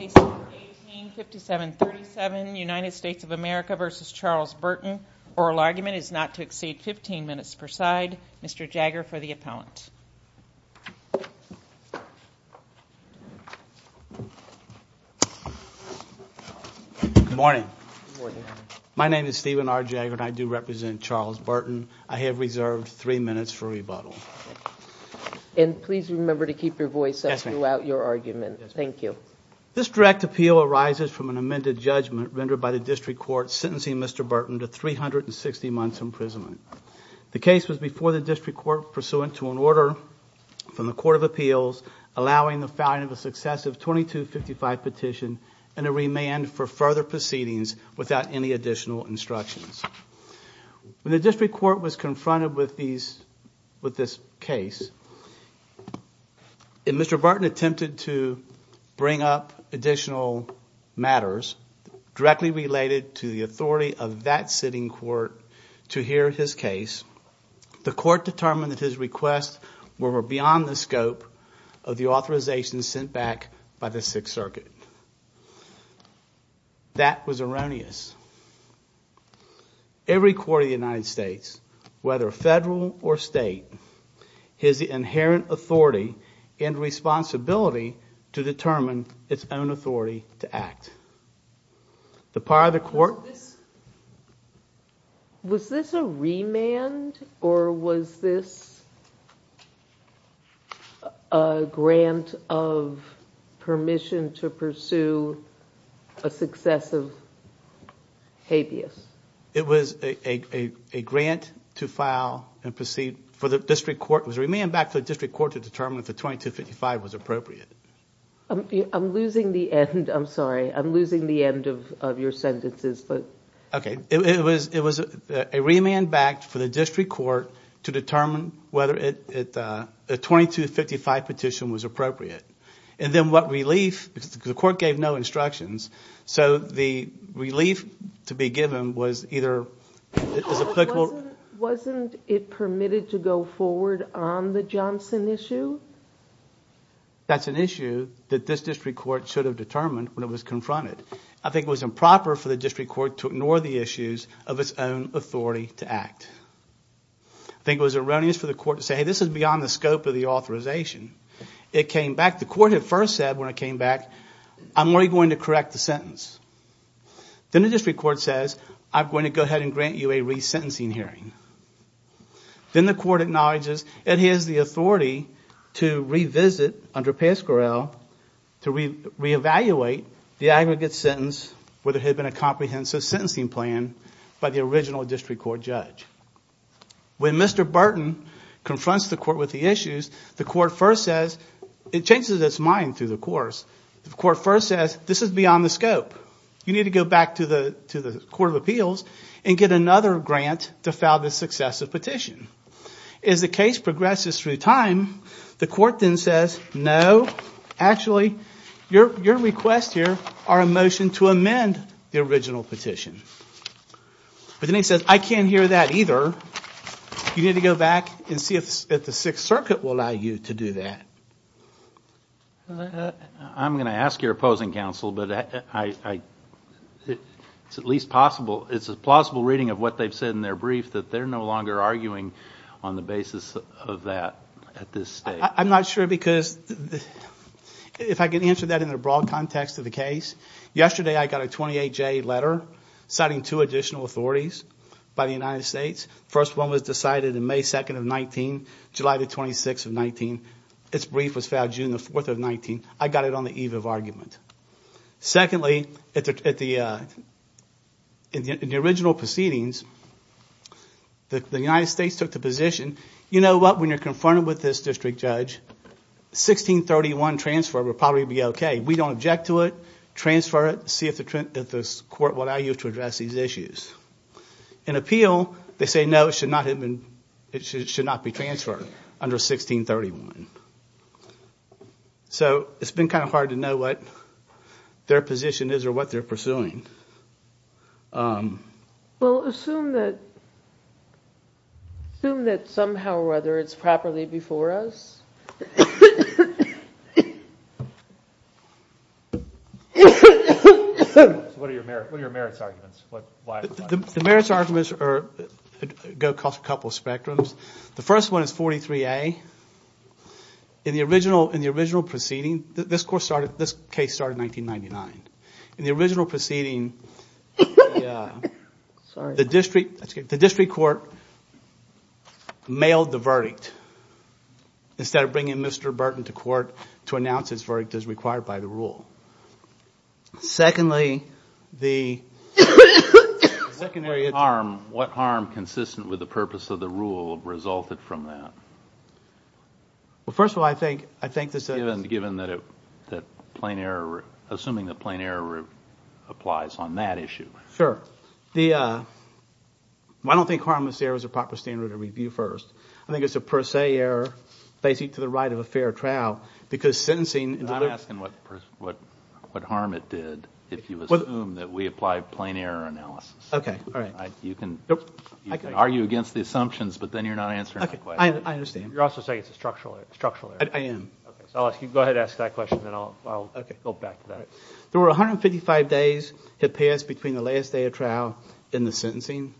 A.C. 185737 United States of America v. Charles Burton. Oral argument is not to exceed 15 minutes per side. Mr. Jagger for the appellant. Good morning. My name is Stephen R. Jagger and I do represent Charles Burton. I have reserved 3 minutes for rebuttal. And please remember to keep your voice up throughout your argument. Thank you. This direct appeal arises from an amended judgment rendered by the District Court sentencing Mr. Burton to 360 months imprisonment. The case was before the District Court pursuant to an order from the Court of Appeals allowing the filing of a successive 2255 petition and a remand for further proceedings without any additional instructions. When the District Court was confronted with this case and Mr. Burton attempted to bring up additional matters directly related to the authority of that sitting court to hear his case, the court determined that his requests were beyond the scope of the authorization sent back by the Sixth Circuit. That was erroneous. Every court of the United States, whether federal or state, has the inherent authority and responsibility to determine its own authority to act. Was this a remand or was this a grant of permission to pursue a successive habeas? It was a remand back to the District Court to determine if the 2255 was appropriate. I'm losing the end. I'm sorry. I'm losing the end of your sentences. Okay. It was a remand back for the District Court to determine whether a 2255 petition was appropriate. And then what relief, because the court gave no instructions, so the relief to be given was either... Wasn't it permitted to go forward on the Johnson issue? That's an issue that this District Court should have determined when it was confronted. I think it was improper for the District Court to ignore the issues of its own authority to act. I think it was erroneous for the court to say, hey, this is beyond the scope of the authorization. It came back. The court had first said when it came back, I'm only going to correct the sentence. Then the District Court says, I'm going to go ahead and grant you a resentencing hearing. Then the court acknowledges it has the authority to revisit under Pascorell to reevaluate the aggregate sentence where there had been a comprehensive sentencing plan by the original District Court judge. When Mr. Burton confronts the court with the issues, the court first says... It changes its mind through the course. The court first says, this is beyond the scope. You need to go back to the Court of Appeals and get another grant to file this successive petition. As the case progresses through time, the court then says, no, actually, your requests here are a motion to amend the original petition. But then it says, I can't hear that either. You need to go back and see if the Sixth Circuit will allow you to do that. I'm going to ask your opposing counsel, but it's a plausible reading of what they've said in their brief that they're no longer arguing on the basis of that at this stage. I'm not sure because, if I can answer that in the broad context of the case, yesterday I got a 28-J letter citing two additional authorities by the United States. The first one was decided in May 2nd of 19, July 26th of 19. Its brief was filed June 4th of 19. I got it on the eve of argument. Secondly, in the original proceedings, the United States took the position, you know what, when you're confronted with this district judge, 1631 transfer would probably be okay. We don't object to it. Transfer it. See if the court will allow you to address these issues. In appeal, they say no, it should not be transferred under 1631. So it's been kind of hard to know what their position is or what they're pursuing. Assume that somehow or other it's properly before us. What are your merits arguments? The merits arguments go across a couple of spectrums. The first one is 43A. In the original proceeding, this case started in 1999. In the original proceeding, the district court mailed the verdict instead of bringing Mr. Burton to court to announce his verdict as required by the rule. Secondly, the... What harm consistent with the purpose of the rule resulted from that? First of all, I think... Assuming that plain error applies on that issue. Sure. I don't think harmless error is a proper standard to review first. I think it's a per se error facing to the right of a fair trial because sentencing... I'm asking what harm it did if you assume that we applied plain error analysis. You can argue against the assumptions, but then you're not answering my question. You're also saying it's a structural error. I am. There were 155 days that passed between the last day of trial and the sentencing.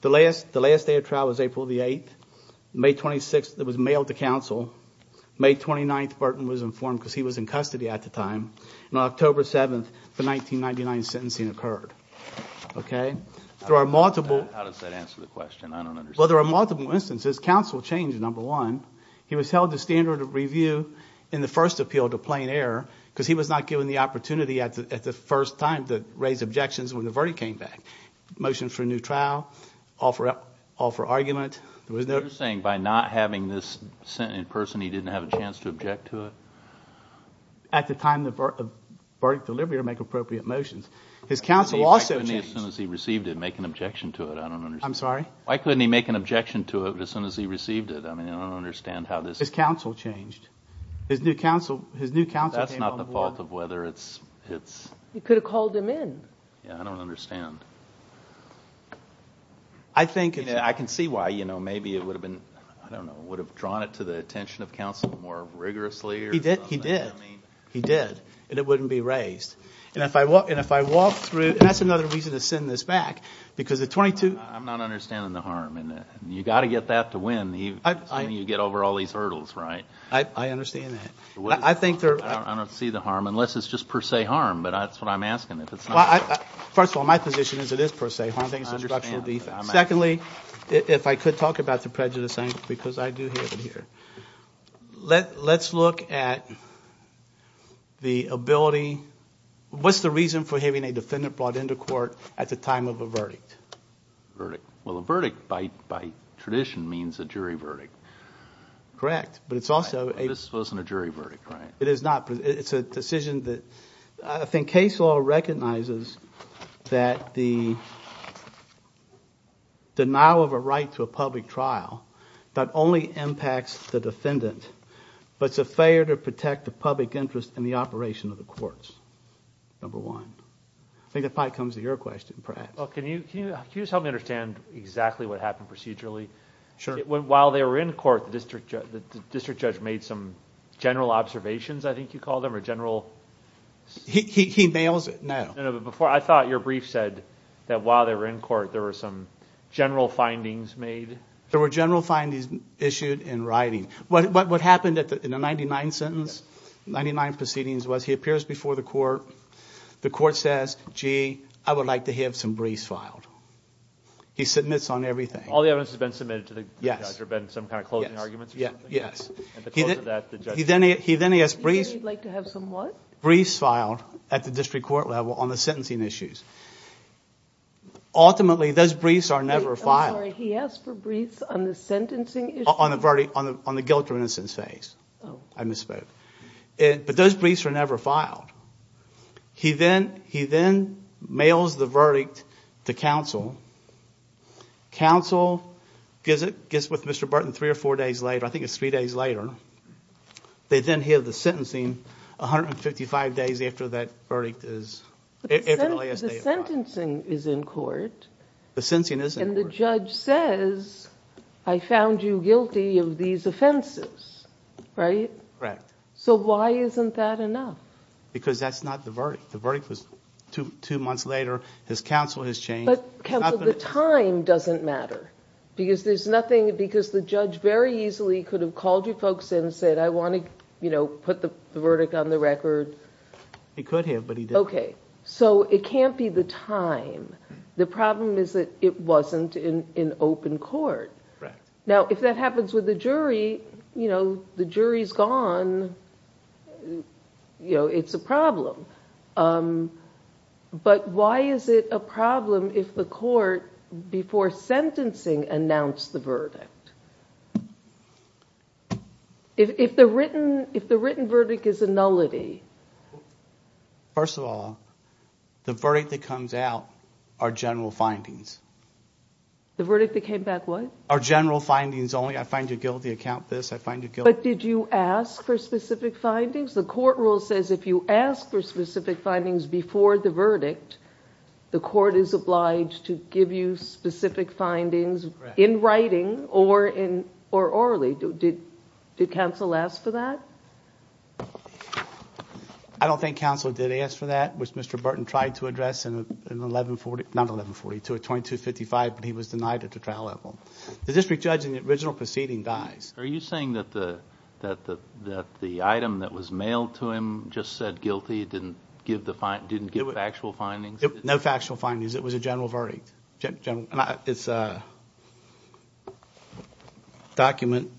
The last day of trial was April 8th. May 26th, it was mailed to counsel. May 29th, Burton was informed because he was in custody at the time. On October 7th, the 1999 sentencing occurred. How does that answer the question? I don't understand. There are multiple instances. Counsel changed, number one. He was held to standard of review in the first appeal to plain error because he was not given the opportunity at the first time to raise objections when the verdict came back. Motion for a new trial, all for argument. You're saying by not having this sent in person he didn't have a chance to object to it? At the time the verdict delivery or make appropriate motions. His counsel also changed. Why couldn't he make an objection to it as soon as he received it? His counsel changed. That's not the fault of whether it's... He could have called him in. I don't understand. I can see why. Maybe it would have drawn it to the attention of counsel more rigorously. He did. And it wouldn't be raised. That's another reason to send this back. I'm not understanding the harm. You've got to get that to win. You get over all these hurdles, right? I understand that. I don't see the harm unless it's just per se harm. That's what I'm asking. First of all, my position is it is per se harm. Secondly, if I could talk about the prejudice angle because I do have it here. Let's look at the ability... What's the reason for having a defendant brought into court at the time of a verdict? A verdict by tradition means a jury verdict. Correct, but it's also... This wasn't a jury verdict, right? It's a decision that... I think case law recognizes that the denial of a right to a public trial not only impacts the defendant, but it's a failure to protect the public interest in the operation of the courts, number one. I think that probably comes to your question, perhaps. Can you just help me understand exactly what happened procedurally? While they were in court, the district judge made some general observations, I think you call them, or general... He nails it now. I thought your brief said that while they were in court, there were some general findings made. There were general findings issued in writing. What happened in the 99th sentence, 99th proceedings, was he appears before the court. The court says, gee, I would like to have some briefs filed. He submits on everything. All the evidence has been submitted to the judge or been some kind of closing arguments or something? Yes. At the close of that, the judge... He then has briefs... He said he'd like to have some what? Briefs filed at the district court level on the sentencing issues. Ultimately, those briefs are never filed. I'm sorry, he asked for briefs on the sentencing issues? On the guilt or innocence phase. Oh. I misspoke. But those briefs were never filed. He then mails the verdict to counsel. Counsel gets with Mr. Burton three or four days later. I think it's three days later. They then hear the sentencing 155 days after that verdict is... The sentencing is in court. The sentencing is in court. And the judge says, I found you guilty of these offenses. Right? Correct. So why isn't that enough? Because that's not the verdict. The verdict was two months later. His counsel has changed. But counsel, the time doesn't matter. Because there's nothing... Because the judge very easily could have called you folks in and said, I want to put the verdict on the record. He could have, but he didn't. Okay. So it can't be the time. The problem is that it wasn't in open court. Right. Now, if that happens with the jury, you know, the jury's gone. You know, it's a problem. But why is it a problem if the court, before sentencing, announced the verdict? If the written verdict is a nullity? First of all, the verdict that comes out are general findings. The verdict that came back what? Are general findings only. I find you guilty. I count this. I find you guilty. But did you ask for specific findings? The court rule says if you ask for specific findings before the verdict, the court is obliged to give you specific findings in writing or orally. Did counsel ask for that? I don't think counsel did ask for that, which Mr. Burton tried to address in 1140, not 1142, 2255, but he was denied at the trial level. The district judge in the original proceeding dies. Are you saying that the item that was mailed to him just said guilty, didn't give factual findings? No factual findings. It was a general verdict. It's a document.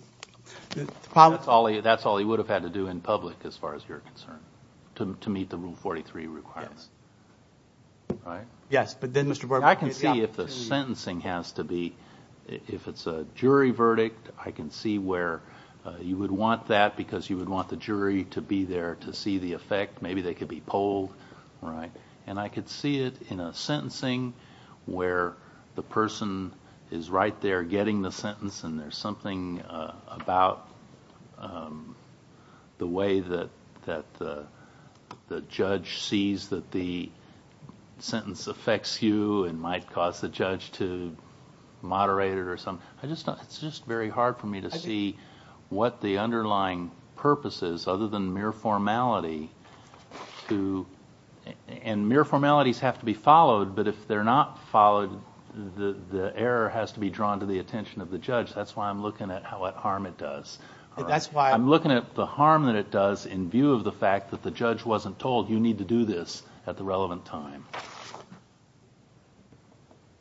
That's all he would have had to do in public as far as you're concerned to meet the Rule 43 requirements. Yes, but then Mr. Burton. I can see if the sentencing has to be, if it's a jury verdict, I can see where you would want that because you would want the jury to be there to see the effect. Maybe they could be polled. And I could see it in a sentencing where the person is right there getting the about the way that the judge sees that the sentence affects you and might cause the judge to moderate it or something. It's just very hard for me to see what the underlying purpose is other than mere formality. And mere formalities have to be followed, but if they're not followed, the error has to be drawn to the attention of the judge. That's why I'm looking at what harm it does. I'm looking at the harm that it does in view of the fact that the judge wasn't told, you need to do this at the relevant time.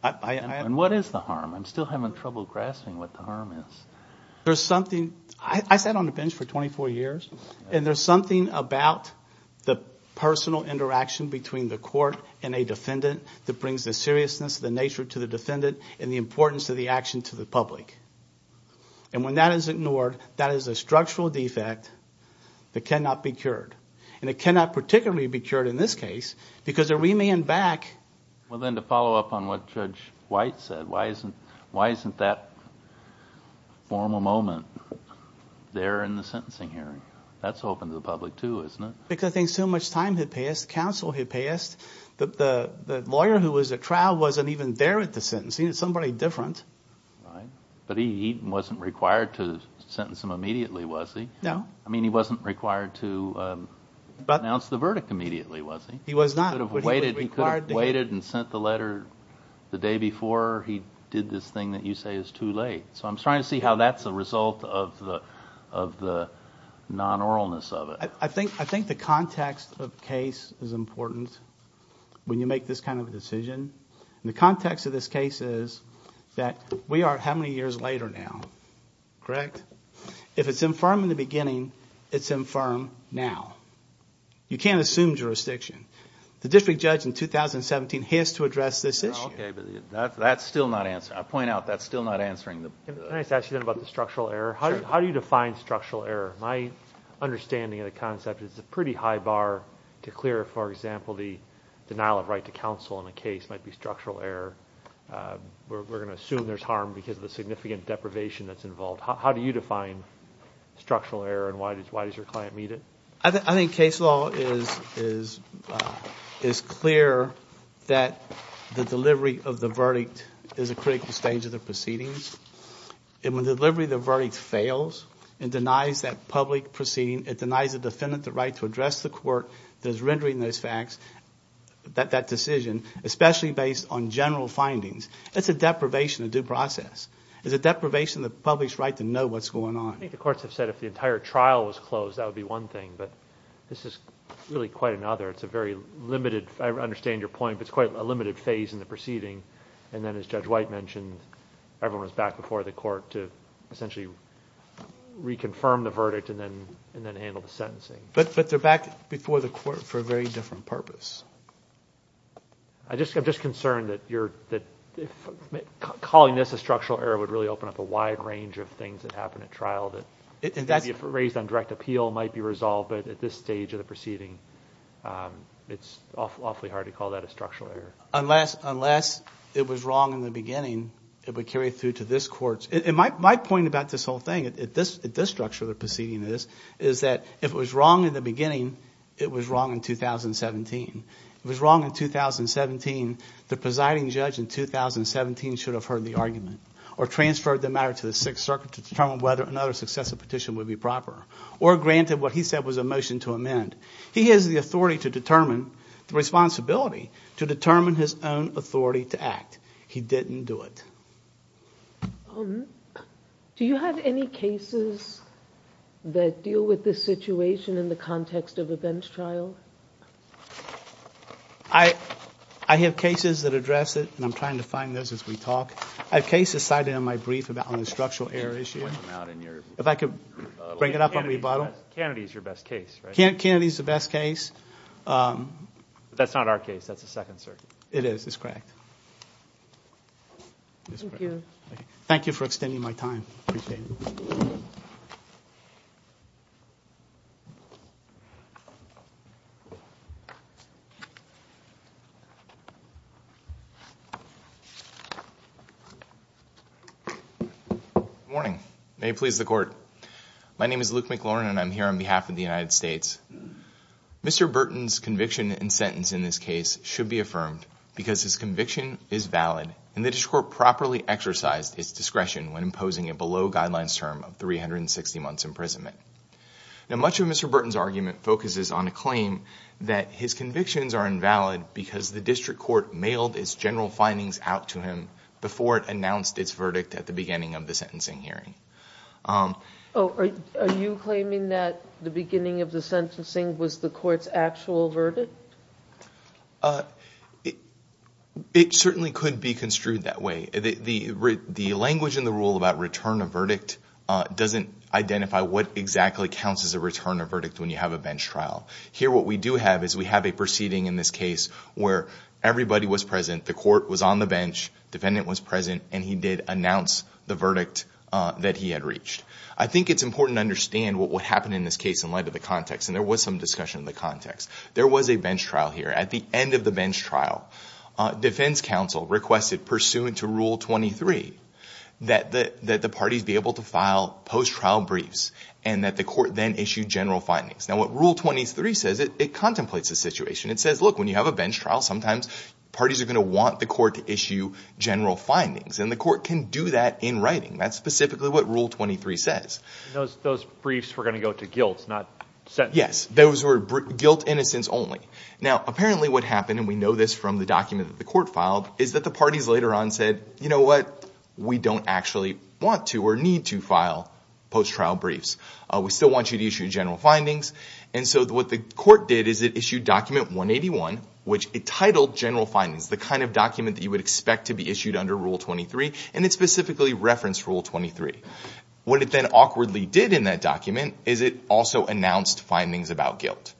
And what is the harm? I'm still having trouble grasping what the harm is. There's something. I sat on the bench for 24 years, and there's something about the personal interaction between the court and a defendant that brings the seriousness, the nature to the defendant, and the importance of the action to the public. And when that is ignored, that is a structural defect that cannot be cured. And it cannot particularly be cured in this case because a remand back. Well, then, to follow up on what Judge White said, why isn't that formal moment there in the sentencing hearing? That's open to the public too, isn't it? Because I think so much time had passed. Counsel had passed. The lawyer who was at trial wasn't even there at the sentencing. It was somebody different. But he wasn't required to sentence him immediately, was he? No. I mean, he wasn't required to announce the verdict immediately, was he? He was not. He could have waited and sent the letter the day before. He did this thing that you say is too late. So I'm trying to see how that's a result of the non-oralness of it. I think the context of the case is important when you make this kind of a decision. And the context of this case is that we are how many years later now, correct? If it's infirm in the beginning, it's infirm now. You can't assume jurisdiction. The district judge in 2017 has to address this issue. Okay, but that's still not answering. I point out that's still not answering. Can I just ask you then about the structural error? How do you define structural error? My understanding of the concept is it's a pretty high bar to clear, for example, the denial of right to counsel in a case might be structural error. We're going to assume there's harm because of the significant deprivation that's involved. How do you define structural error and why does your client meet it? I think case law is clear that the delivery of the verdict is a critical stage of the proceedings. And when the delivery of the verdict fails, it denies that public proceeding, it denies the defendant the right to address the court that is rendering those facts, that decision, especially based on general findings. It's a deprivation of due process. It's a deprivation of the public's right to know what's going on. I think the courts have said if the entire trial was closed, that would be one thing, but this is really quite another. It's a very limited, I understand your point, but it's quite a limited phase in the proceeding. And then, as Judge White mentioned, everyone's back before the court to essentially reconfirm the verdict and then handle the sentencing. But they're back before the court for a very different purpose. I'm just concerned that calling this a structural error would really open up a wide range of things that happen at trial that if raised on direct appeal might be resolved, but at this stage of the proceeding, it's awfully hard to call that a structural error. Unless it was wrong in the beginning, it would carry through to this court. My point about this whole thing, at this structure of the proceeding, is that if it was wrong in the beginning, it was wrong in 2017. If it was wrong in 2017, the presiding judge in 2017 should have heard the argument or transferred the matter to the Sixth Circuit to determine whether another successive petition would be proper or granted what he said was a motion to amend. He has the authority to determine, the responsibility to determine his own authority to act. He didn't do it. Do you have any cases that deal with this situation in the context of a bench trial? I have cases that address it, and I'm trying to find those as we talk. I have cases cited in my brief about a structural error issue. If I could bring it up on rebuttal. Kennedy is your best case, right? Kennedy is the best case. That's not our case. That's the Second Circuit. It is. It's correct. Thank you. Thank you for extending my time. I appreciate it. Good morning. May it please the Court. My name is Luke McLaurin, and I'm here on behalf of the United States. Mr. Burton's conviction and sentence in this case should be affirmed because his conviction is valid and the district court properly exercised its discretion when imposing a below guidelines term of 360 months imprisonment. Now, much of Mr. Burton's argument focuses on a claim that his convictions are invalid because the district court mailed its general findings out to him before it announced its verdict at the beginning of the sentencing hearing. Are you claiming that the beginning of the sentencing was the court's actual verdict? It certainly could be construed that way. The language in the rule about return of verdict doesn't identify what exactly counts as a return of verdict when you have a bench trial. Here what we do have is we have a proceeding in this case where everybody was present, the court was on the bench, the defendant was present, and he did announce the verdict that he had reached. I think it's important to understand what happened in this case in light of the context, and there was some discussion of the context. There was a bench trial here. At the end of the bench trial, defense counsel requested, pursuant to Rule 23, that the parties be able to file post-trial briefs and that the court then issue general findings. Now, what Rule 23 says, it contemplates the situation. It says, look, when you have a bench trial, sometimes parties are going to want the court to issue general findings, and the court can do that in writing. That's specifically what Rule 23 says. Those briefs were going to go to guilt, not sentencing. Yes, those were guilt innocence only. Now, apparently what happened, and we know this from the document that the court filed, is that the parties later on said, you know what, we don't actually want to or need to file post-trial briefs. We still want you to issue general findings. And so what the court did is it issued Document 181, which it titled General Findings, the kind of document that you would expect to be issued under Rule 23, and it specifically referenced Rule 23. What it then awkwardly did in that document is it also announced findings about guilt.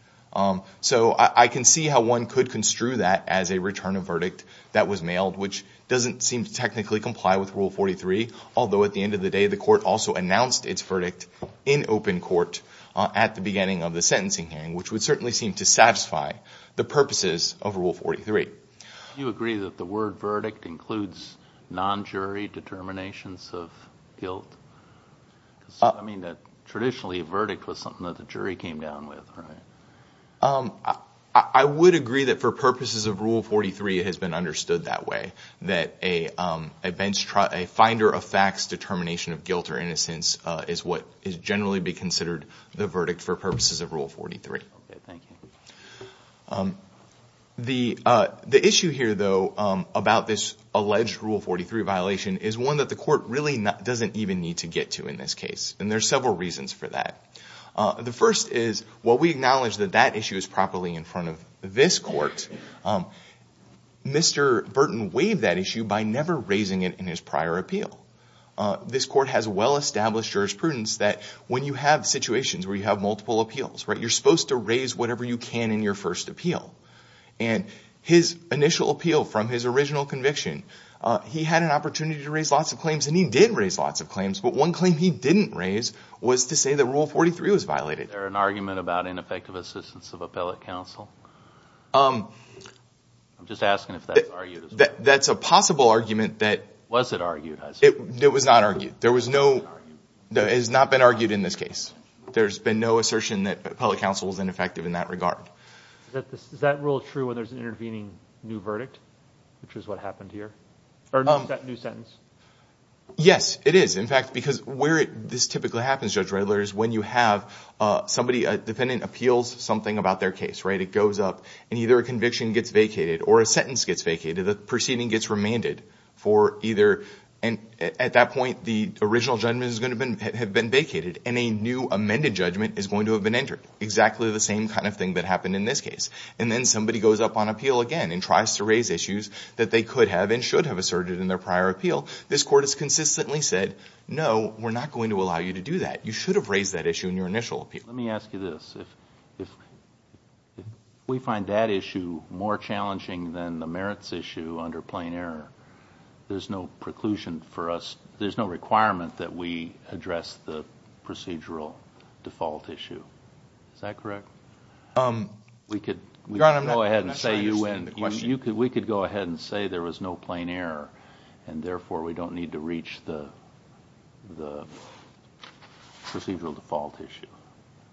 So I can see how one could construe that as a return of verdict that was mailed, which doesn't seem to technically comply with Rule 43, although at the end of the day the court also announced its verdict in open court at the beginning of the sentencing hearing, which would certainly seem to satisfy the purposes of Rule 43. Do you agree that the word verdict includes non-jury determinations of guilt? I mean, traditionally a verdict was something that the jury came down with, right? I would agree that for purposes of Rule 43 it has been understood that way, that a finder of facts determination of guilt or innocence is what is generally considered the verdict for purposes of Rule 43. Okay, thank you. The issue here, though, about this alleged Rule 43 violation is one that the court really doesn't even need to get to in this case, and there are several reasons for that. The first is while we acknowledge that that issue is properly in front of this court, Mr. Burton waived that issue by never raising it in his prior appeal. This court has well-established jurisprudence that when you have situations where you have multiple appeals, you're supposed to raise whatever you can in your first appeal. And his initial appeal from his original conviction, he had an opportunity to raise lots of claims, and he did raise lots of claims, but one claim he didn't raise was to say that Rule 43 was violated. Is there an argument about ineffective assistance of appellate counsel? I'm just asking if that's argued. That's a possible argument that— Was it argued? It was not argued. There was no—it has not been argued in this case. There's been no assertion that appellate counsel was ineffective in that regard. Is that rule true when there's an intervening new verdict, which is what happened here? Or is that a new sentence? Yes, it is. In fact, because where this typically happens, Judge Redler, is when you have somebody, a defendant, appeals something about their case. It goes up, and either a conviction gets vacated or a sentence gets vacated. The proceeding gets remanded for either—at that point, the original judgment is going to have been vacated, and a new amended judgment is going to have been entered, exactly the same kind of thing that happened in this case. And then somebody goes up on appeal again and tries to raise issues that they could have and should have asserted in their prior appeal. This court has consistently said, no, we're not going to allow you to do that. You should have raised that issue in your initial appeal. Let me ask you this. If we find that issue more challenging than the merits issue under plain error, there's no preclusion for us— there's no requirement that we address the procedural default issue. Is that correct? Your Honor, I'm not sure I understand the question. We could go ahead and say there was no plain error, and therefore we don't need to reach the procedural default issue.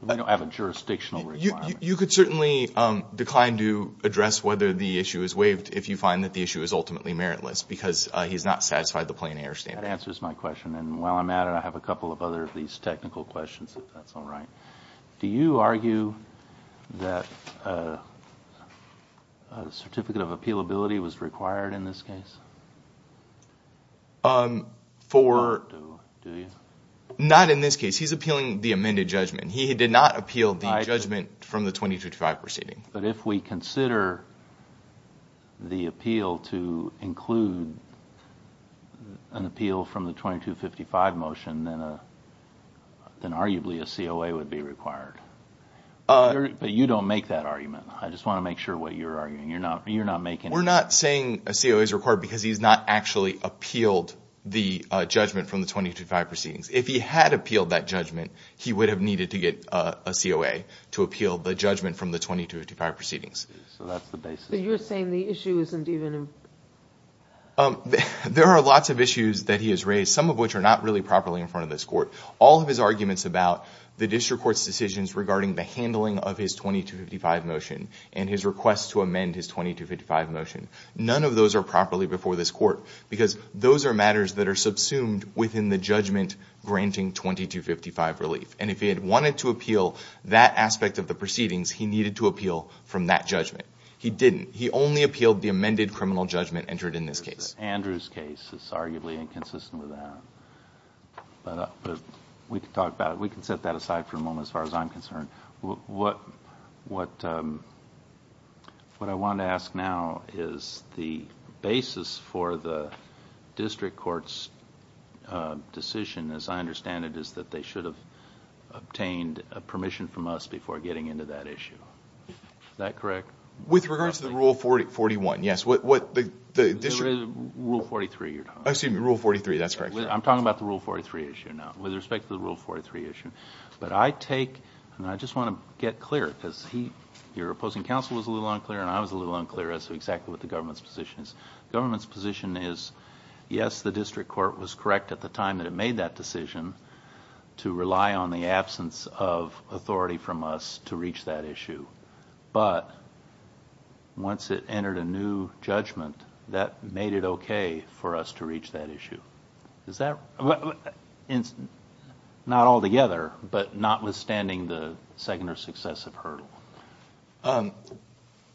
We don't have a jurisdictional requirement. You could certainly decline to address whether the issue is waived if you find that the issue is ultimately meritless, because he's not satisfied the plain error standard. That answers my question. And while I'm at it, I have a couple of other of these technical questions, if that's all right. Do you argue that a certificate of appealability was required in this case? Not in this case. He's appealing the amended judgment. He did not appeal the judgment from the 2255 proceeding. But if we consider the appeal to include an appeal from the 2255 motion, then arguably a COA would be required. But you don't make that argument. I just want to make sure what you're arguing. You're not making— We're not saying a COA is required because he's not actually appealed the judgment from the 2255 proceedings. If he had appealed that judgment, he would have needed to get a COA to appeal the judgment from the 2255 proceedings. So that's the basis. But you're saying the issue isn't even— There are lots of issues that he has raised, some of which are not really properly in front of this court. All of his arguments about the district court's decisions regarding the handling of his 2255 motion and his request to amend his 2255 motion, none of those are properly before this court because those are matters that are subsumed within the judgment granting 2255 relief. And if he had wanted to appeal that aspect of the proceedings, he needed to appeal from that judgment. He didn't. He only appealed the amended criminal judgment entered in this case. Andrew's case is arguably inconsistent with that. But we can talk about it. We can set that aside for a moment as far as I'm concerned. What I want to ask now is the basis for the district court's decision, as I understand it, is that they should have obtained permission from us before getting into that issue. Is that correct? With regards to the Rule 41, yes. The Rule 43 you're talking about. Oh, excuse me, Rule 43. That's correct. I'm talking about the Rule 43 issue now, with respect to the Rule 43 issue. But I take, and I just want to get clear, because your opposing counsel was a little unclear and I was a little unclear as to exactly what the government's position is. The government's position is, yes, the district court was correct at the time that it made that decision to rely on the absence of authority from us to reach that issue. But once it entered a new judgment, that made it okay for us to reach that issue. Not altogether, but notwithstanding the second or successive hurdle.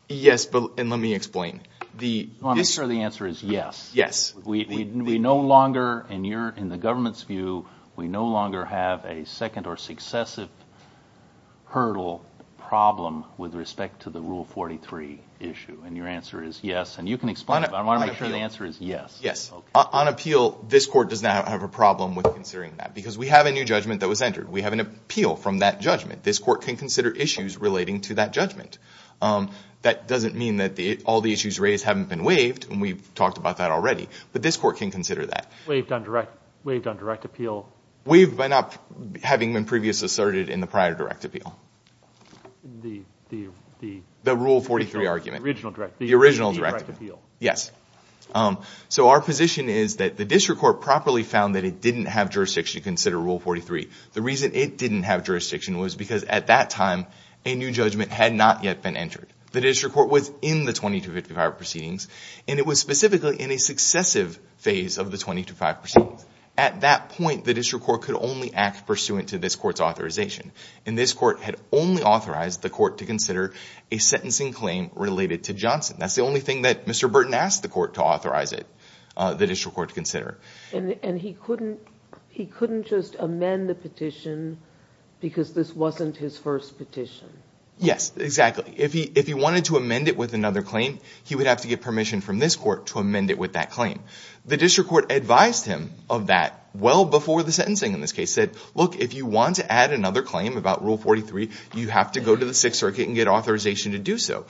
Yes, and let me explain. I want to make sure the answer is yes. Yes. We no longer, in the government's view, we no longer have a second or successive hurdle problem with respect to the Rule 43 issue. And your answer is yes. And you can explain it, but I want to make sure the answer is yes. Yes. On appeal, this court does not have a problem with considering that, because we have a new judgment that was entered. We have an appeal from that judgment. This court can consider issues relating to that judgment. That doesn't mean that all the issues raised haven't been waived, and we've talked about that already, but this court can consider that. Waived on direct appeal? Waived by not having been previously asserted in the prior direct appeal. The Rule 43 argument? The original direct appeal. The original direct appeal. Yes. So our position is that the district court properly found that it didn't have jurisdiction to consider Rule 43. The reason it didn't have jurisdiction was because at that time, a new judgment had not yet been entered. The district court was in the 2255 proceedings, and it was specifically in a successive phase of the 2255 proceedings. At that point, the district court could only act pursuant to this court's authorization, and this court had only authorized the court to consider a sentencing claim related to Johnson. That's the only thing that Mr. Burton asked the court to authorize it, the district court to consider. And he couldn't just amend the petition because this wasn't his first petition? Yes, exactly. If he wanted to amend it with another claim, he would have to get permission from this court to amend it with that claim. The district court advised him of that well before the sentencing in this case, said, look, if you want to add another claim about Rule 43, you have to go to the Sixth Circuit and get authorization to do so.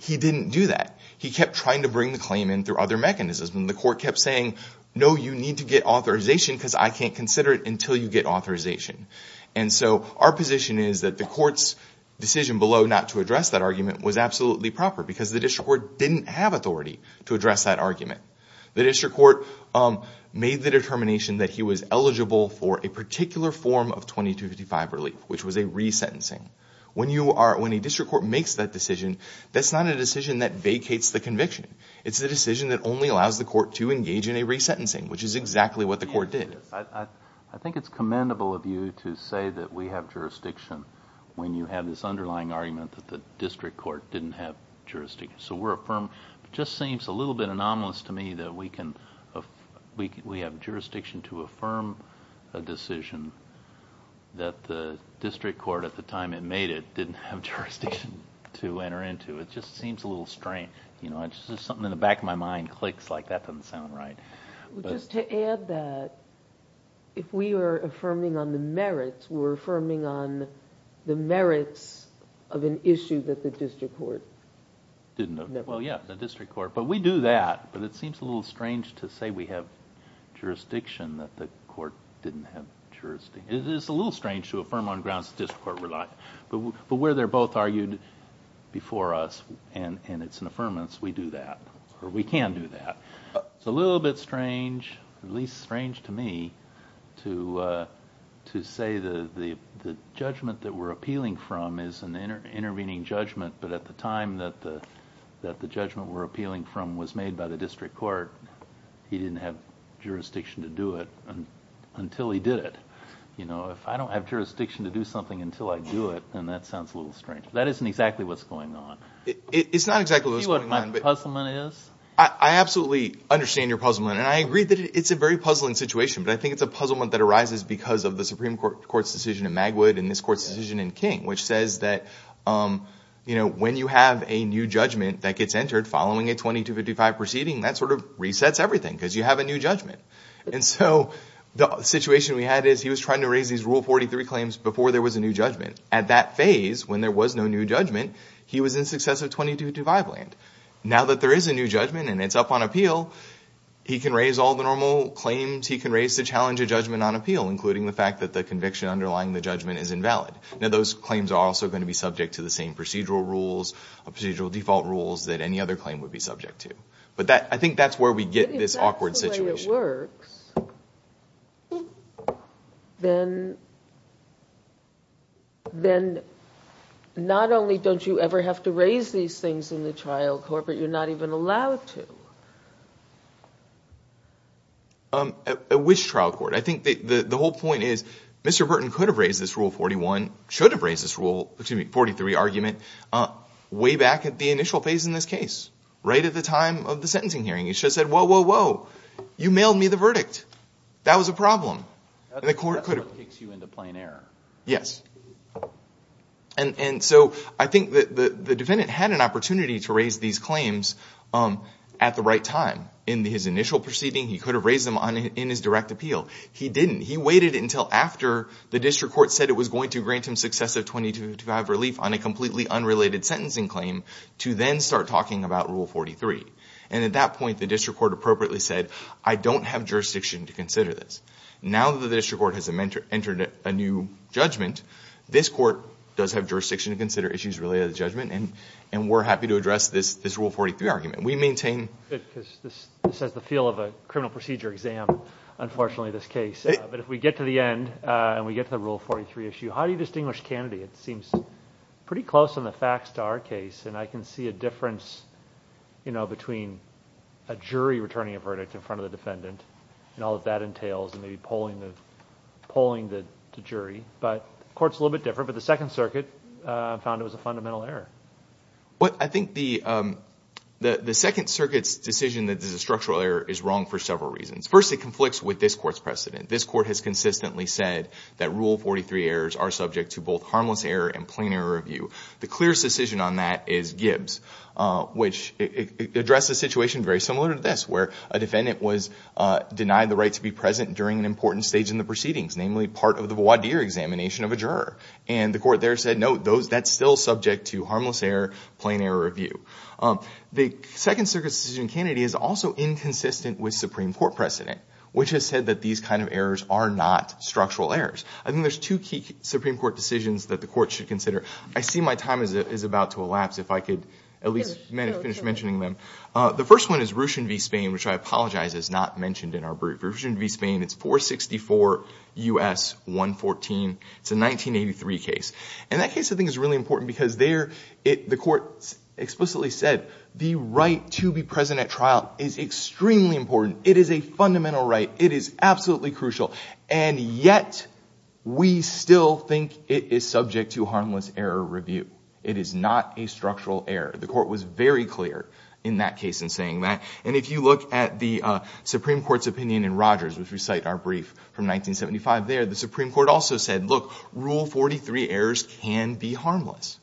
He didn't do that. He kept trying to bring the claim in through other mechanisms, and the court kept saying, no, you need to get authorization because I can't consider it until you get authorization. And so our position is that the court's decision below not to address that argument was absolutely proper because the district court didn't have authority to address that argument. The district court made the determination that he was eligible for a particular form of 2255 relief, which was a resentencing. When a district court makes that decision, that's not a decision that vacates the conviction. It's a decision that only allows the court to engage in a resentencing, which is exactly what the court did. I think it's commendable of you to say that we have jurisdiction when you have this underlying argument that the district court didn't have jurisdiction. So we're affirmed. It just seems a little bit anomalous to me that we have jurisdiction to affirm a decision that the district court, at the time it made it, didn't have jurisdiction to enter into. It just seems a little strange. Something in the back of my mind clicks like that doesn't sound right. Just to add that, if we are affirming on the merits, we're affirming on the merits of an issue that the district court didn't have. Well, yeah, the district court. But we do that, but it seems a little strange to say we have jurisdiction that the court didn't have jurisdiction. It is a little strange to affirm on grounds that the district court relied. But where they're both argued before us and it's an affirmance, we do that, or we can do that. It's a little bit strange, at least strange to me, to say the judgment that we're appealing from is an intervening judgment, but at the time that the judgment we're appealing from was made by the district court, he didn't have jurisdiction to do it until he did it. If I don't have jurisdiction to do something until I do it, then that sounds a little strange. That isn't exactly what's going on. It's not exactly what's going on. Do you see what my puzzlement is? I absolutely understand your puzzlement, and I agree that it's a very puzzling situation, but I think it's a puzzlement that arises because of the Supreme Court's decision in Magwood and this Court's decision in King, which says that when you have a new judgment that gets entered following a 2255 proceeding, that sort of resets everything because you have a new judgment. And so the situation we had is he was trying to raise these Rule 43 claims before there was a new judgment. At that phase, when there was no new judgment, he was in success of 2255 land. Now that there is a new judgment and it's up on appeal, he can raise all the normal claims he can raise to challenge a judgment on appeal, including the fact that the conviction underlying the judgment is invalid. Now those claims are also going to be subject to the same procedural rules, procedural default rules that any other claim would be subject to. But I think that's where we get this awkward situation. If that's the way it works, then not only don't you ever have to raise these things in the trial court, but you're not even allowed to. At which trial court? I think the whole point is Mr. Burton could have raised this Rule 41, should have raised this Rule 43 argument way back at the initial phase in this case, right at the time of the sentencing hearing. He should have said, whoa, whoa, whoa. You mailed me the verdict. That was a problem. And the court could have— That's what kicks you into plain error. Yes. And so I think that the defendant had an opportunity to raise these claims at the right time. In his initial proceeding, he could have raised them in his direct appeal. He didn't. He waited until after the district court said it was going to grant him success of 2255 relief on a completely unrelated sentencing claim to then start talking about Rule 43. And at that point, the district court appropriately said, I don't have jurisdiction to consider this. Now that the district court has entered a new judgment, this court does have jurisdiction to consider issues related to the judgment, and we're happy to address this Rule 43 argument. We maintain— This has the feel of a criminal procedure exam, unfortunately, this case. But if we get to the end and we get to the Rule 43 issue, how do you distinguish Kennedy? It seems pretty close in the facts to our case, and I can see a difference between a jury returning a verdict in front of the defendant and all that that entails and maybe polling the jury. But the court's a little bit different, but the Second Circuit found it was a fundamental error. I think the Second Circuit's decision that this is a structural error is wrong for several reasons. First, it conflicts with this court's precedent. This court has consistently said that Rule 43 errors are subject to both harmless error and plain error review. The clearest decision on that is Gibbs, which addressed a situation very similar to this, where a defendant was denied the right to be present during an important stage in the proceedings, namely part of the voir dire examination of a juror. And the court there said, no, that's still subject to harmless error, plain error review. The Second Circuit's decision in Kennedy is also inconsistent with Supreme Court precedent, which has said that these kind of errors are not structural errors. I think there's two key Supreme Court decisions that the court should consider. I see my time is about to elapse if I could at least finish mentioning them. The first one is Ruchin v. Spain, which I apologize is not mentioned in our brief. Ruchin v. Spain, it's 464 U.S. 114. It's a 1983 case. And that case, I think, is really important because there the court explicitly said the right to be present at trial is extremely important. It is a fundamental right. It is absolutely crucial. And yet we still think it is subject to harmless error review. It is not a structural error. The court was very clear in that case in saying that. And if you look at the Supreme Court's opinion in Rogers, which we cite in our brief from 1975 there, the Supreme Court also said, look, Rule 43 errors can be harmless.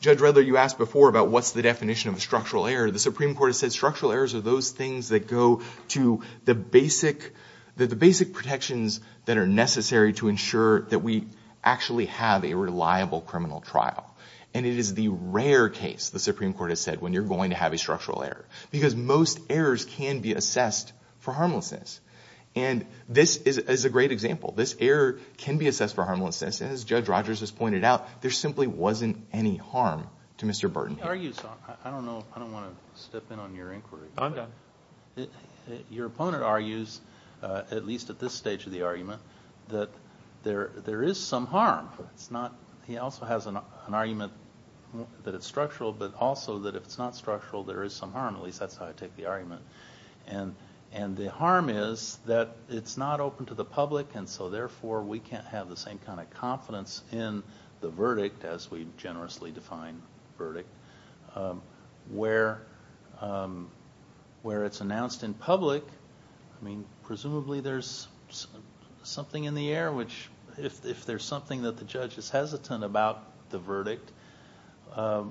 Judge Redler, you asked before about what's the definition of a structural error. The Supreme Court has said structural errors are those things that go to the basic protections that are necessary to ensure that we actually have a reliable criminal trial. And it is the rare case, the Supreme Court has said, when you're going to have a structural error because most errors can be assessed for harmlessness. And this is a great example. This error can be assessed for harmlessness. And as Judge Rogers has pointed out, there simply wasn't any harm to Mr. Burton here. I don't want to step in on your inquiry. I'm done. Your opponent argues, at least at this stage of the argument, that there is some harm. He also has an argument that it's structural, but also that if it's not structural, there is some harm. At least that's how I take the argument. And the harm is that it's not open to the public, and so therefore we can't have the same kind of confidence in the verdict, as we generously define verdict, where it's announced in public. I mean, presumably there's something in the air which, if there's something that the judge is hesitant about the verdict,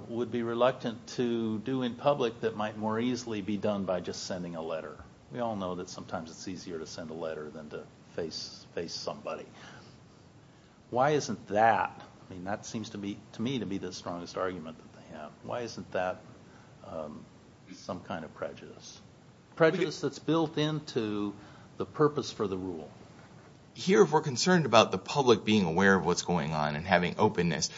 would be reluctant to do in public that might more easily be done by just sending a letter. We all know that sometimes it's easier to send a letter than to face somebody. Why isn't that? I mean, that seems to me to be the strongest argument that they have. Why isn't that some kind of prejudice? Prejudice that's built into the purpose for the rule. Here, if we're concerned about the public being aware of what's going on and having openness,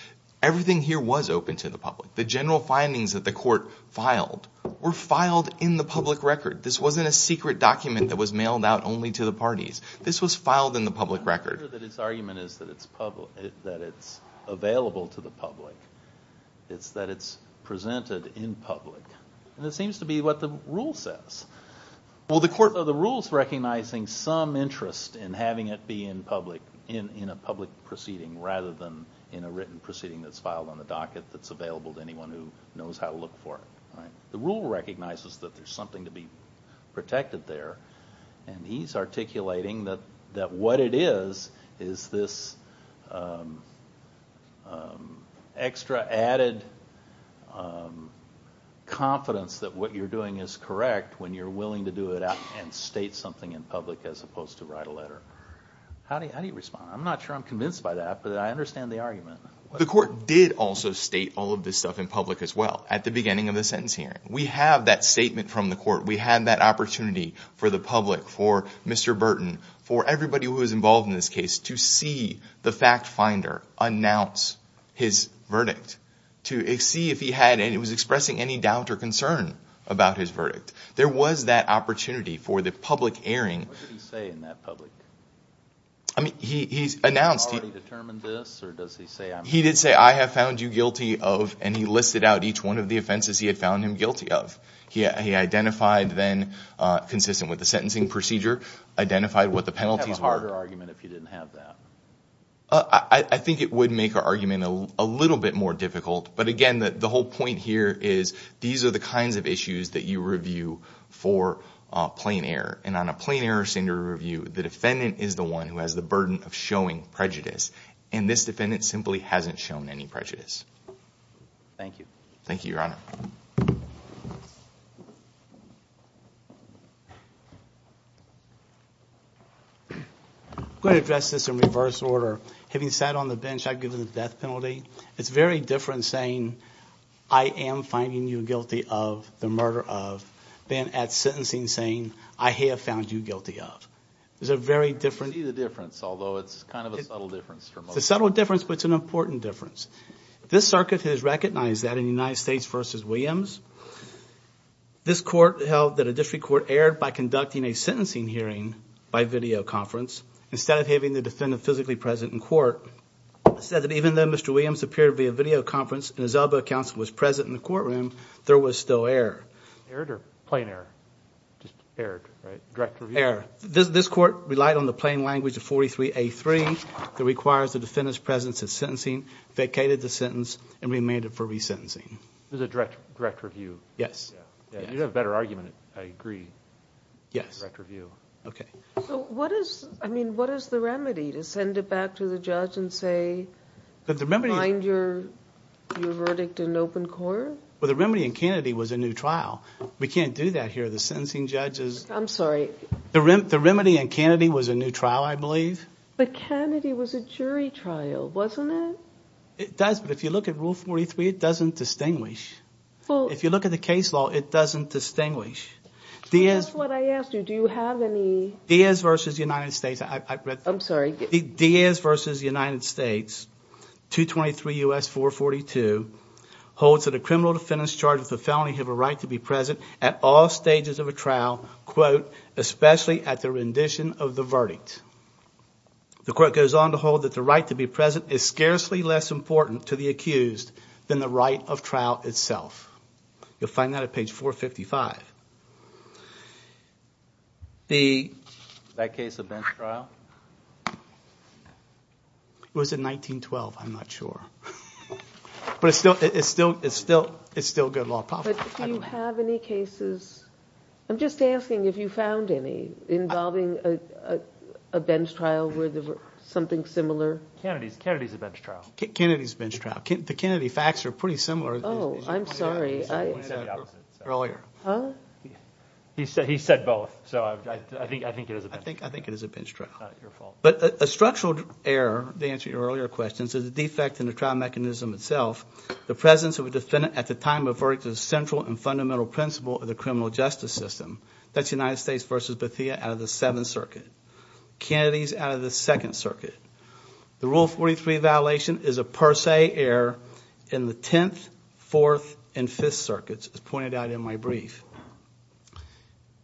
everything here was open to the public. The general findings that the court filed were filed in the public record. This wasn't a secret document that was mailed out only to the parties. This was filed in the public record. I'm not sure that its argument is that it's available to the public. It's that it's presented in public. And it seems to be what the rule says. Well, the rule's recognizing some interest in having it be in a public proceeding rather than in a written proceeding that's filed on the docket that's available to anyone who knows how to look for it. The rule recognizes that there's something to be protected there, and he's articulating that what it is is this extra added confidence that what you're doing is correct when you're willing to do it and state something in public as opposed to write a letter. How do you respond? I'm not sure I'm convinced by that, but I understand the argument. The court did also state all of this stuff in public as well. At the beginning of the sentence hearing, we have that statement from the court. We had that opportunity for the public, for Mr. Burton, for everybody who was involved in this case to see the fact finder announce his verdict, to see if he was expressing any doubt or concern about his verdict. There was that opportunity for the public airing. What did he say in that public? I mean, he announced. Has he already determined this, or does he say I'm guilty? He listed out each one of the offenses he had found him guilty of. He identified then, consistent with the sentencing procedure, identified what the penalties were. Would you have a harder argument if you didn't have that? I think it would make our argument a little bit more difficult, but again, the whole point here is these are the kinds of issues that you review for plain error, and on a plain error standard review, the defendant is the one who has the burden of showing prejudice, and this defendant simply hasn't shown any prejudice. Thank you. Thank you, Your Honor. I'm going to address this in reverse order. Having sat on the bench, I've given the death penalty. It's very different saying I am finding you guilty of the murder of than at sentencing saying I have found you guilty of. It's a subtle difference, but it's an important difference. This circuit has recognized that in the United States v. Williams, this court held that a district court erred by conducting a sentencing hearing by videoconference instead of having the defendant physically present in court. It said that even though Mr. Williams appeared via videoconference and his elbow counsel was present in the courtroom, there was still error. Error or plain error? Error. Direct review? Error. This court relied on the plain language of 43A3 that requires the defendant's presence at sentencing, vacated the sentence, and remanded for resentencing. It was a direct review? Yes. You have a better argument. I agree. Yes. Direct review. Okay. So what is the remedy to send it back to the judge and say find your verdict in open court? Well, the remedy in Kennedy was a new trial. We can't do that here. I'm sorry. The remedy in Kennedy was a new trial, I believe. But Kennedy was a jury trial, wasn't it? It does, but if you look at Rule 43, it doesn't distinguish. If you look at the case law, it doesn't distinguish. That's what I asked you. Do you have any? Diaz v. United States. I'm sorry. Diaz v. United States, 223 U.S. 442, holds that a criminal defendant charged with a felony have a right to be present at all stages of a trial, quote, especially at the rendition of the verdict. The court goes on to hold that the right to be present is scarcely less important to the accused than the right of trial itself. You'll find that at page 455. That case event trial? It was in 1912, I'm not sure. But it's still good law. Do you have any cases? I'm just asking if you found any involving a bench trial where there was something similar. Kennedy's a bench trial. Kennedy's a bench trial. The Kennedy facts are pretty similar. Oh, I'm sorry. He said the opposite. Earlier. Huh? He said both, so I think it is a bench trial. I think it is a bench trial. Your fault. But a structural error, to answer your earlier questions, is a defect in the trial mechanism itself. The presence of a defendant at the time of verdict is a central and fundamental principle of the criminal justice system. That's United States v. Bethea out of the Seventh Circuit. Kennedy's out of the Second Circuit. The Rule 43 violation is a per se error in the Tenth, Fourth, and Fifth Circuits, as pointed out in my brief.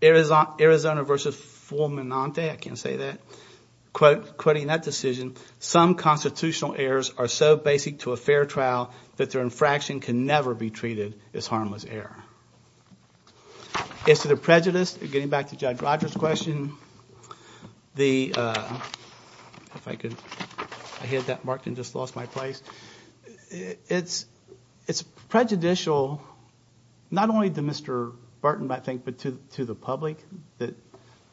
Arizona v. Fulminante, I can't say that, quoting that decision, some constitutional errors are so basic to a fair trial that their infraction can never be treated as harmless error. As to the prejudice, getting back to Judge Rogers' question, the, if I could, I hit that mark and just lost my place. It's prejudicial, not only to Mr. Barton, I think, but to the public, that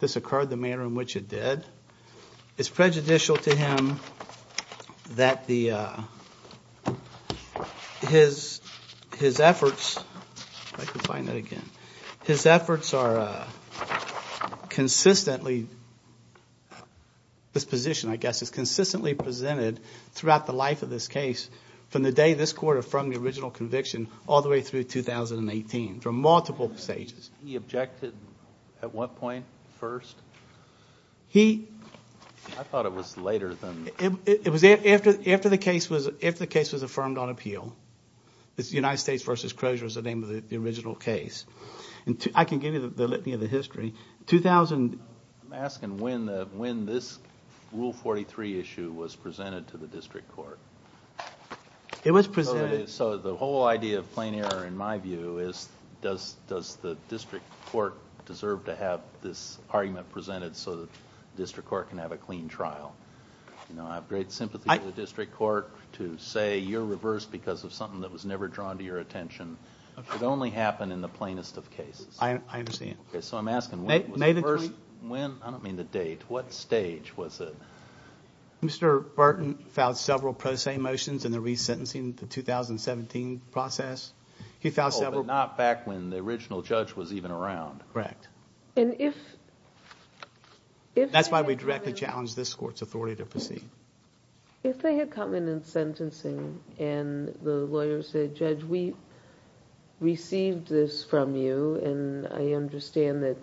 this occurred the manner in which it did. It's prejudicial to him that his efforts, if I can find that again, his efforts are consistently, this position, I guess, is consistently presented throughout the life of this case from the day this Court affirmed the original conviction all the way through 2018, for multiple stages. He objected at what point first? He... I thought it was later than... It was after the case was affirmed on appeal. United States v. Crozier was the name of the original case. I can give you the litany of the history. 2000... I'm asking when this Rule 43 issue was presented to the District Court. It was presented... So the whole idea of plain error, in my view, is does the District Court deserve to have this argument presented so the District Court can have a clean trial? I have great sympathy for the District Court to say you're reversed because of something that was never drawn to your attention. It only happened in the plainest of cases. I understand. So I'm asking when was the first... I don't mean the date. What stage was it? Mr. Barton filed several pro se motions in the resentencing of the 2017 process. Oh, but not back when the original judge was even around. Correct. And if... That's why we directly challenge this Court's authority to proceed. If they had come in in sentencing and the lawyer said, Judge, we received this from you and I understand that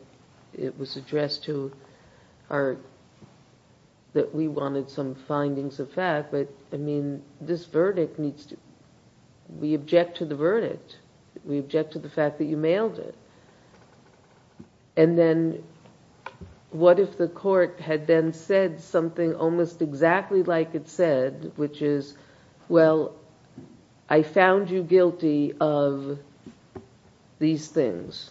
it was addressed to our... that we wanted some findings of fact, but, I mean, this verdict needs to... We object to the verdict. We object to the fact that you mailed it. And then what if the Court had then said something almost exactly like it said, which is, well, I found you guilty of these things.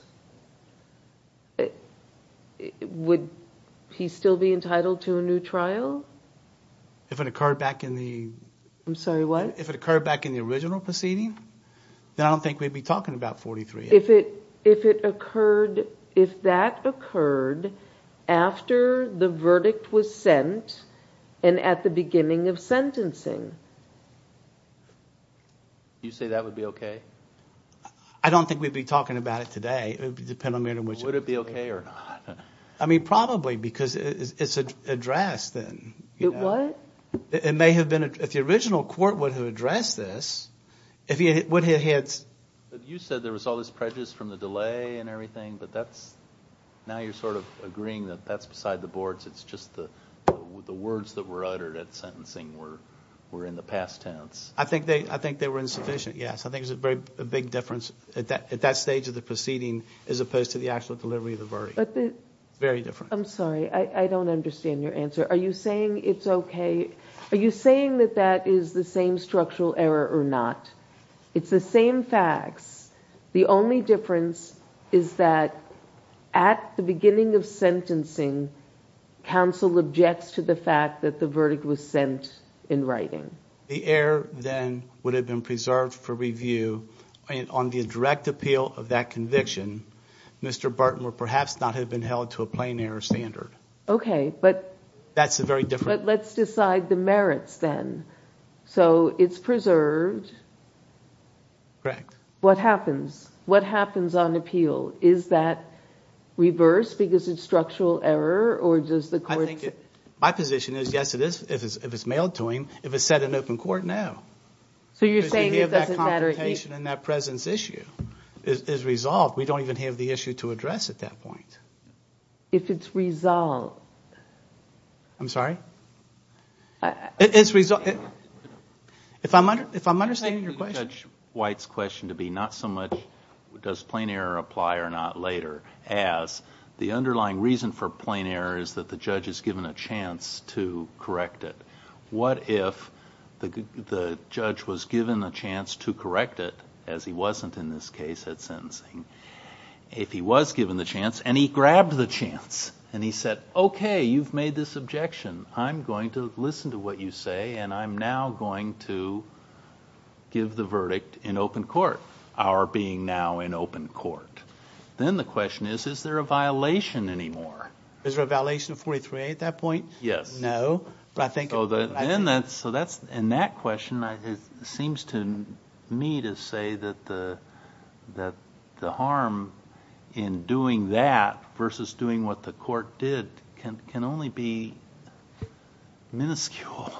Would he still be entitled to a new trial? If it occurred back in the... I'm sorry, what? If it occurred back in the original proceeding, then I don't think we'd be talking about 43. If it occurred... If that occurred after the verdict was sent and at the beginning of sentencing? You say that would be okay? I don't think we'd be talking about it today. It would depend on the... Would it be okay or not? I mean, probably, because it's addressed then. It what? It may have been... If the original Court would have addressed this, if he had... You said there was all this prejudice from the delay and everything, but that's... Now you're sort of agreeing that that's beside the boards. It's just the words that were uttered at sentencing were in the past tense. I think they were insufficient, yes. I think there's a very big difference at that stage of the proceeding as opposed to the actual delivery of the verdict. Very different. I'm sorry, I don't understand your answer. Are you saying it's okay? Are you saying that that is the same structural error or not? It's the same facts. The only difference is that at the beginning of sentencing, counsel objects to the fact that the verdict was sent in writing. The error then would have been preserved for review. On the direct appeal of that conviction, Mr. Barton would perhaps not have been held to a plain error standard. Okay, but let's decide the merits then. So it's preserved. Correct. What happens? What happens on appeal? Is that reversed because it's structural error or does the court... My position is, yes, it is if it's mailed to him. If it's set in open court, no. So you're saying it doesn't matter... Because we have that confrontation and that presence issue is resolved. We don't even have the issue to address at that point. If it's resolved. I'm sorry? If I'm understanding your question... I'm taking Judge White's question to be not so much does plain error apply or not later as the underlying reason for plain error is that the judge is given a chance to correct it. What if the judge was given a chance to correct it, as he wasn't in this case at sentencing, if he was given the chance and he grabbed the chance and he said, okay, you've made this objection, I'm going to listen to what you say and I'm now going to give the verdict in open court, our being now in open court. Then the question is, is there a violation anymore? Is there a violation of 43A at that point? Yes. No. In that question, it seems to me to say that the harm in doing that versus doing what the court did can only be minuscule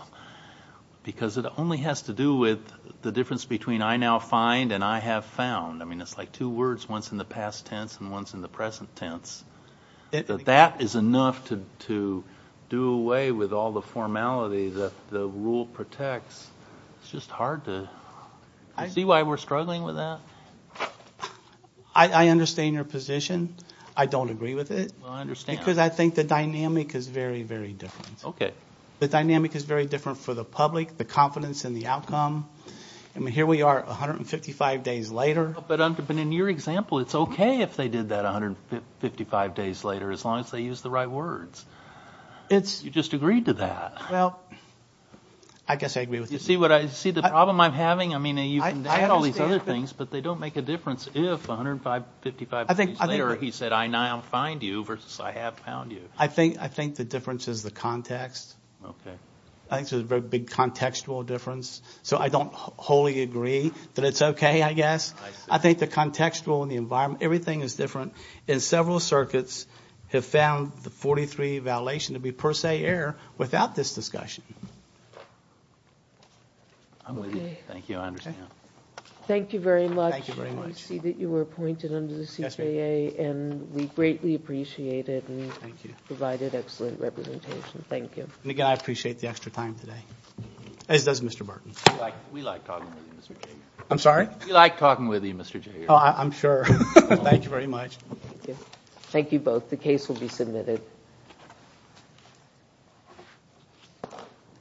because it only has to do with the difference between I now find and I have found. It's like two words, one's in the past tense and one's in the present tense. That is enough to do away with all the formality that the rule protects. It's just hard to see why we're struggling with that. I understand your position. I don't agree with it because I think the dynamic is very, very different. The dynamic is very different for the public, the confidence in the outcome. Here we are 155 days later. But in your example, it's okay if they did that 155 days later as long as they use the right words. You just agreed to that. Well, I guess I agree with you. You see the problem I'm having? I mean, you can do all these other things, but they don't make a difference if 155 days later he said, I now find you versus I have found you. I think the difference is the context. I think there's a very big contextual difference. So I don't wholly agree that it's okay, I guess. I think the contextual and the environment, everything is different. And several circuits have found the 43 validation to be per se air without this discussion. Thank you. I understand. Thank you very much. I see that you were appointed under the CJA, and we greatly appreciate it and provided excellent representation. Thank you. Again, I appreciate the extra time today, as does Mr. Burton. We like talking with you, Mr. King. I'm sorry? We like talking with you, Mr. Jager. Oh, I'm sure. Thank you very much. The case will be submitted.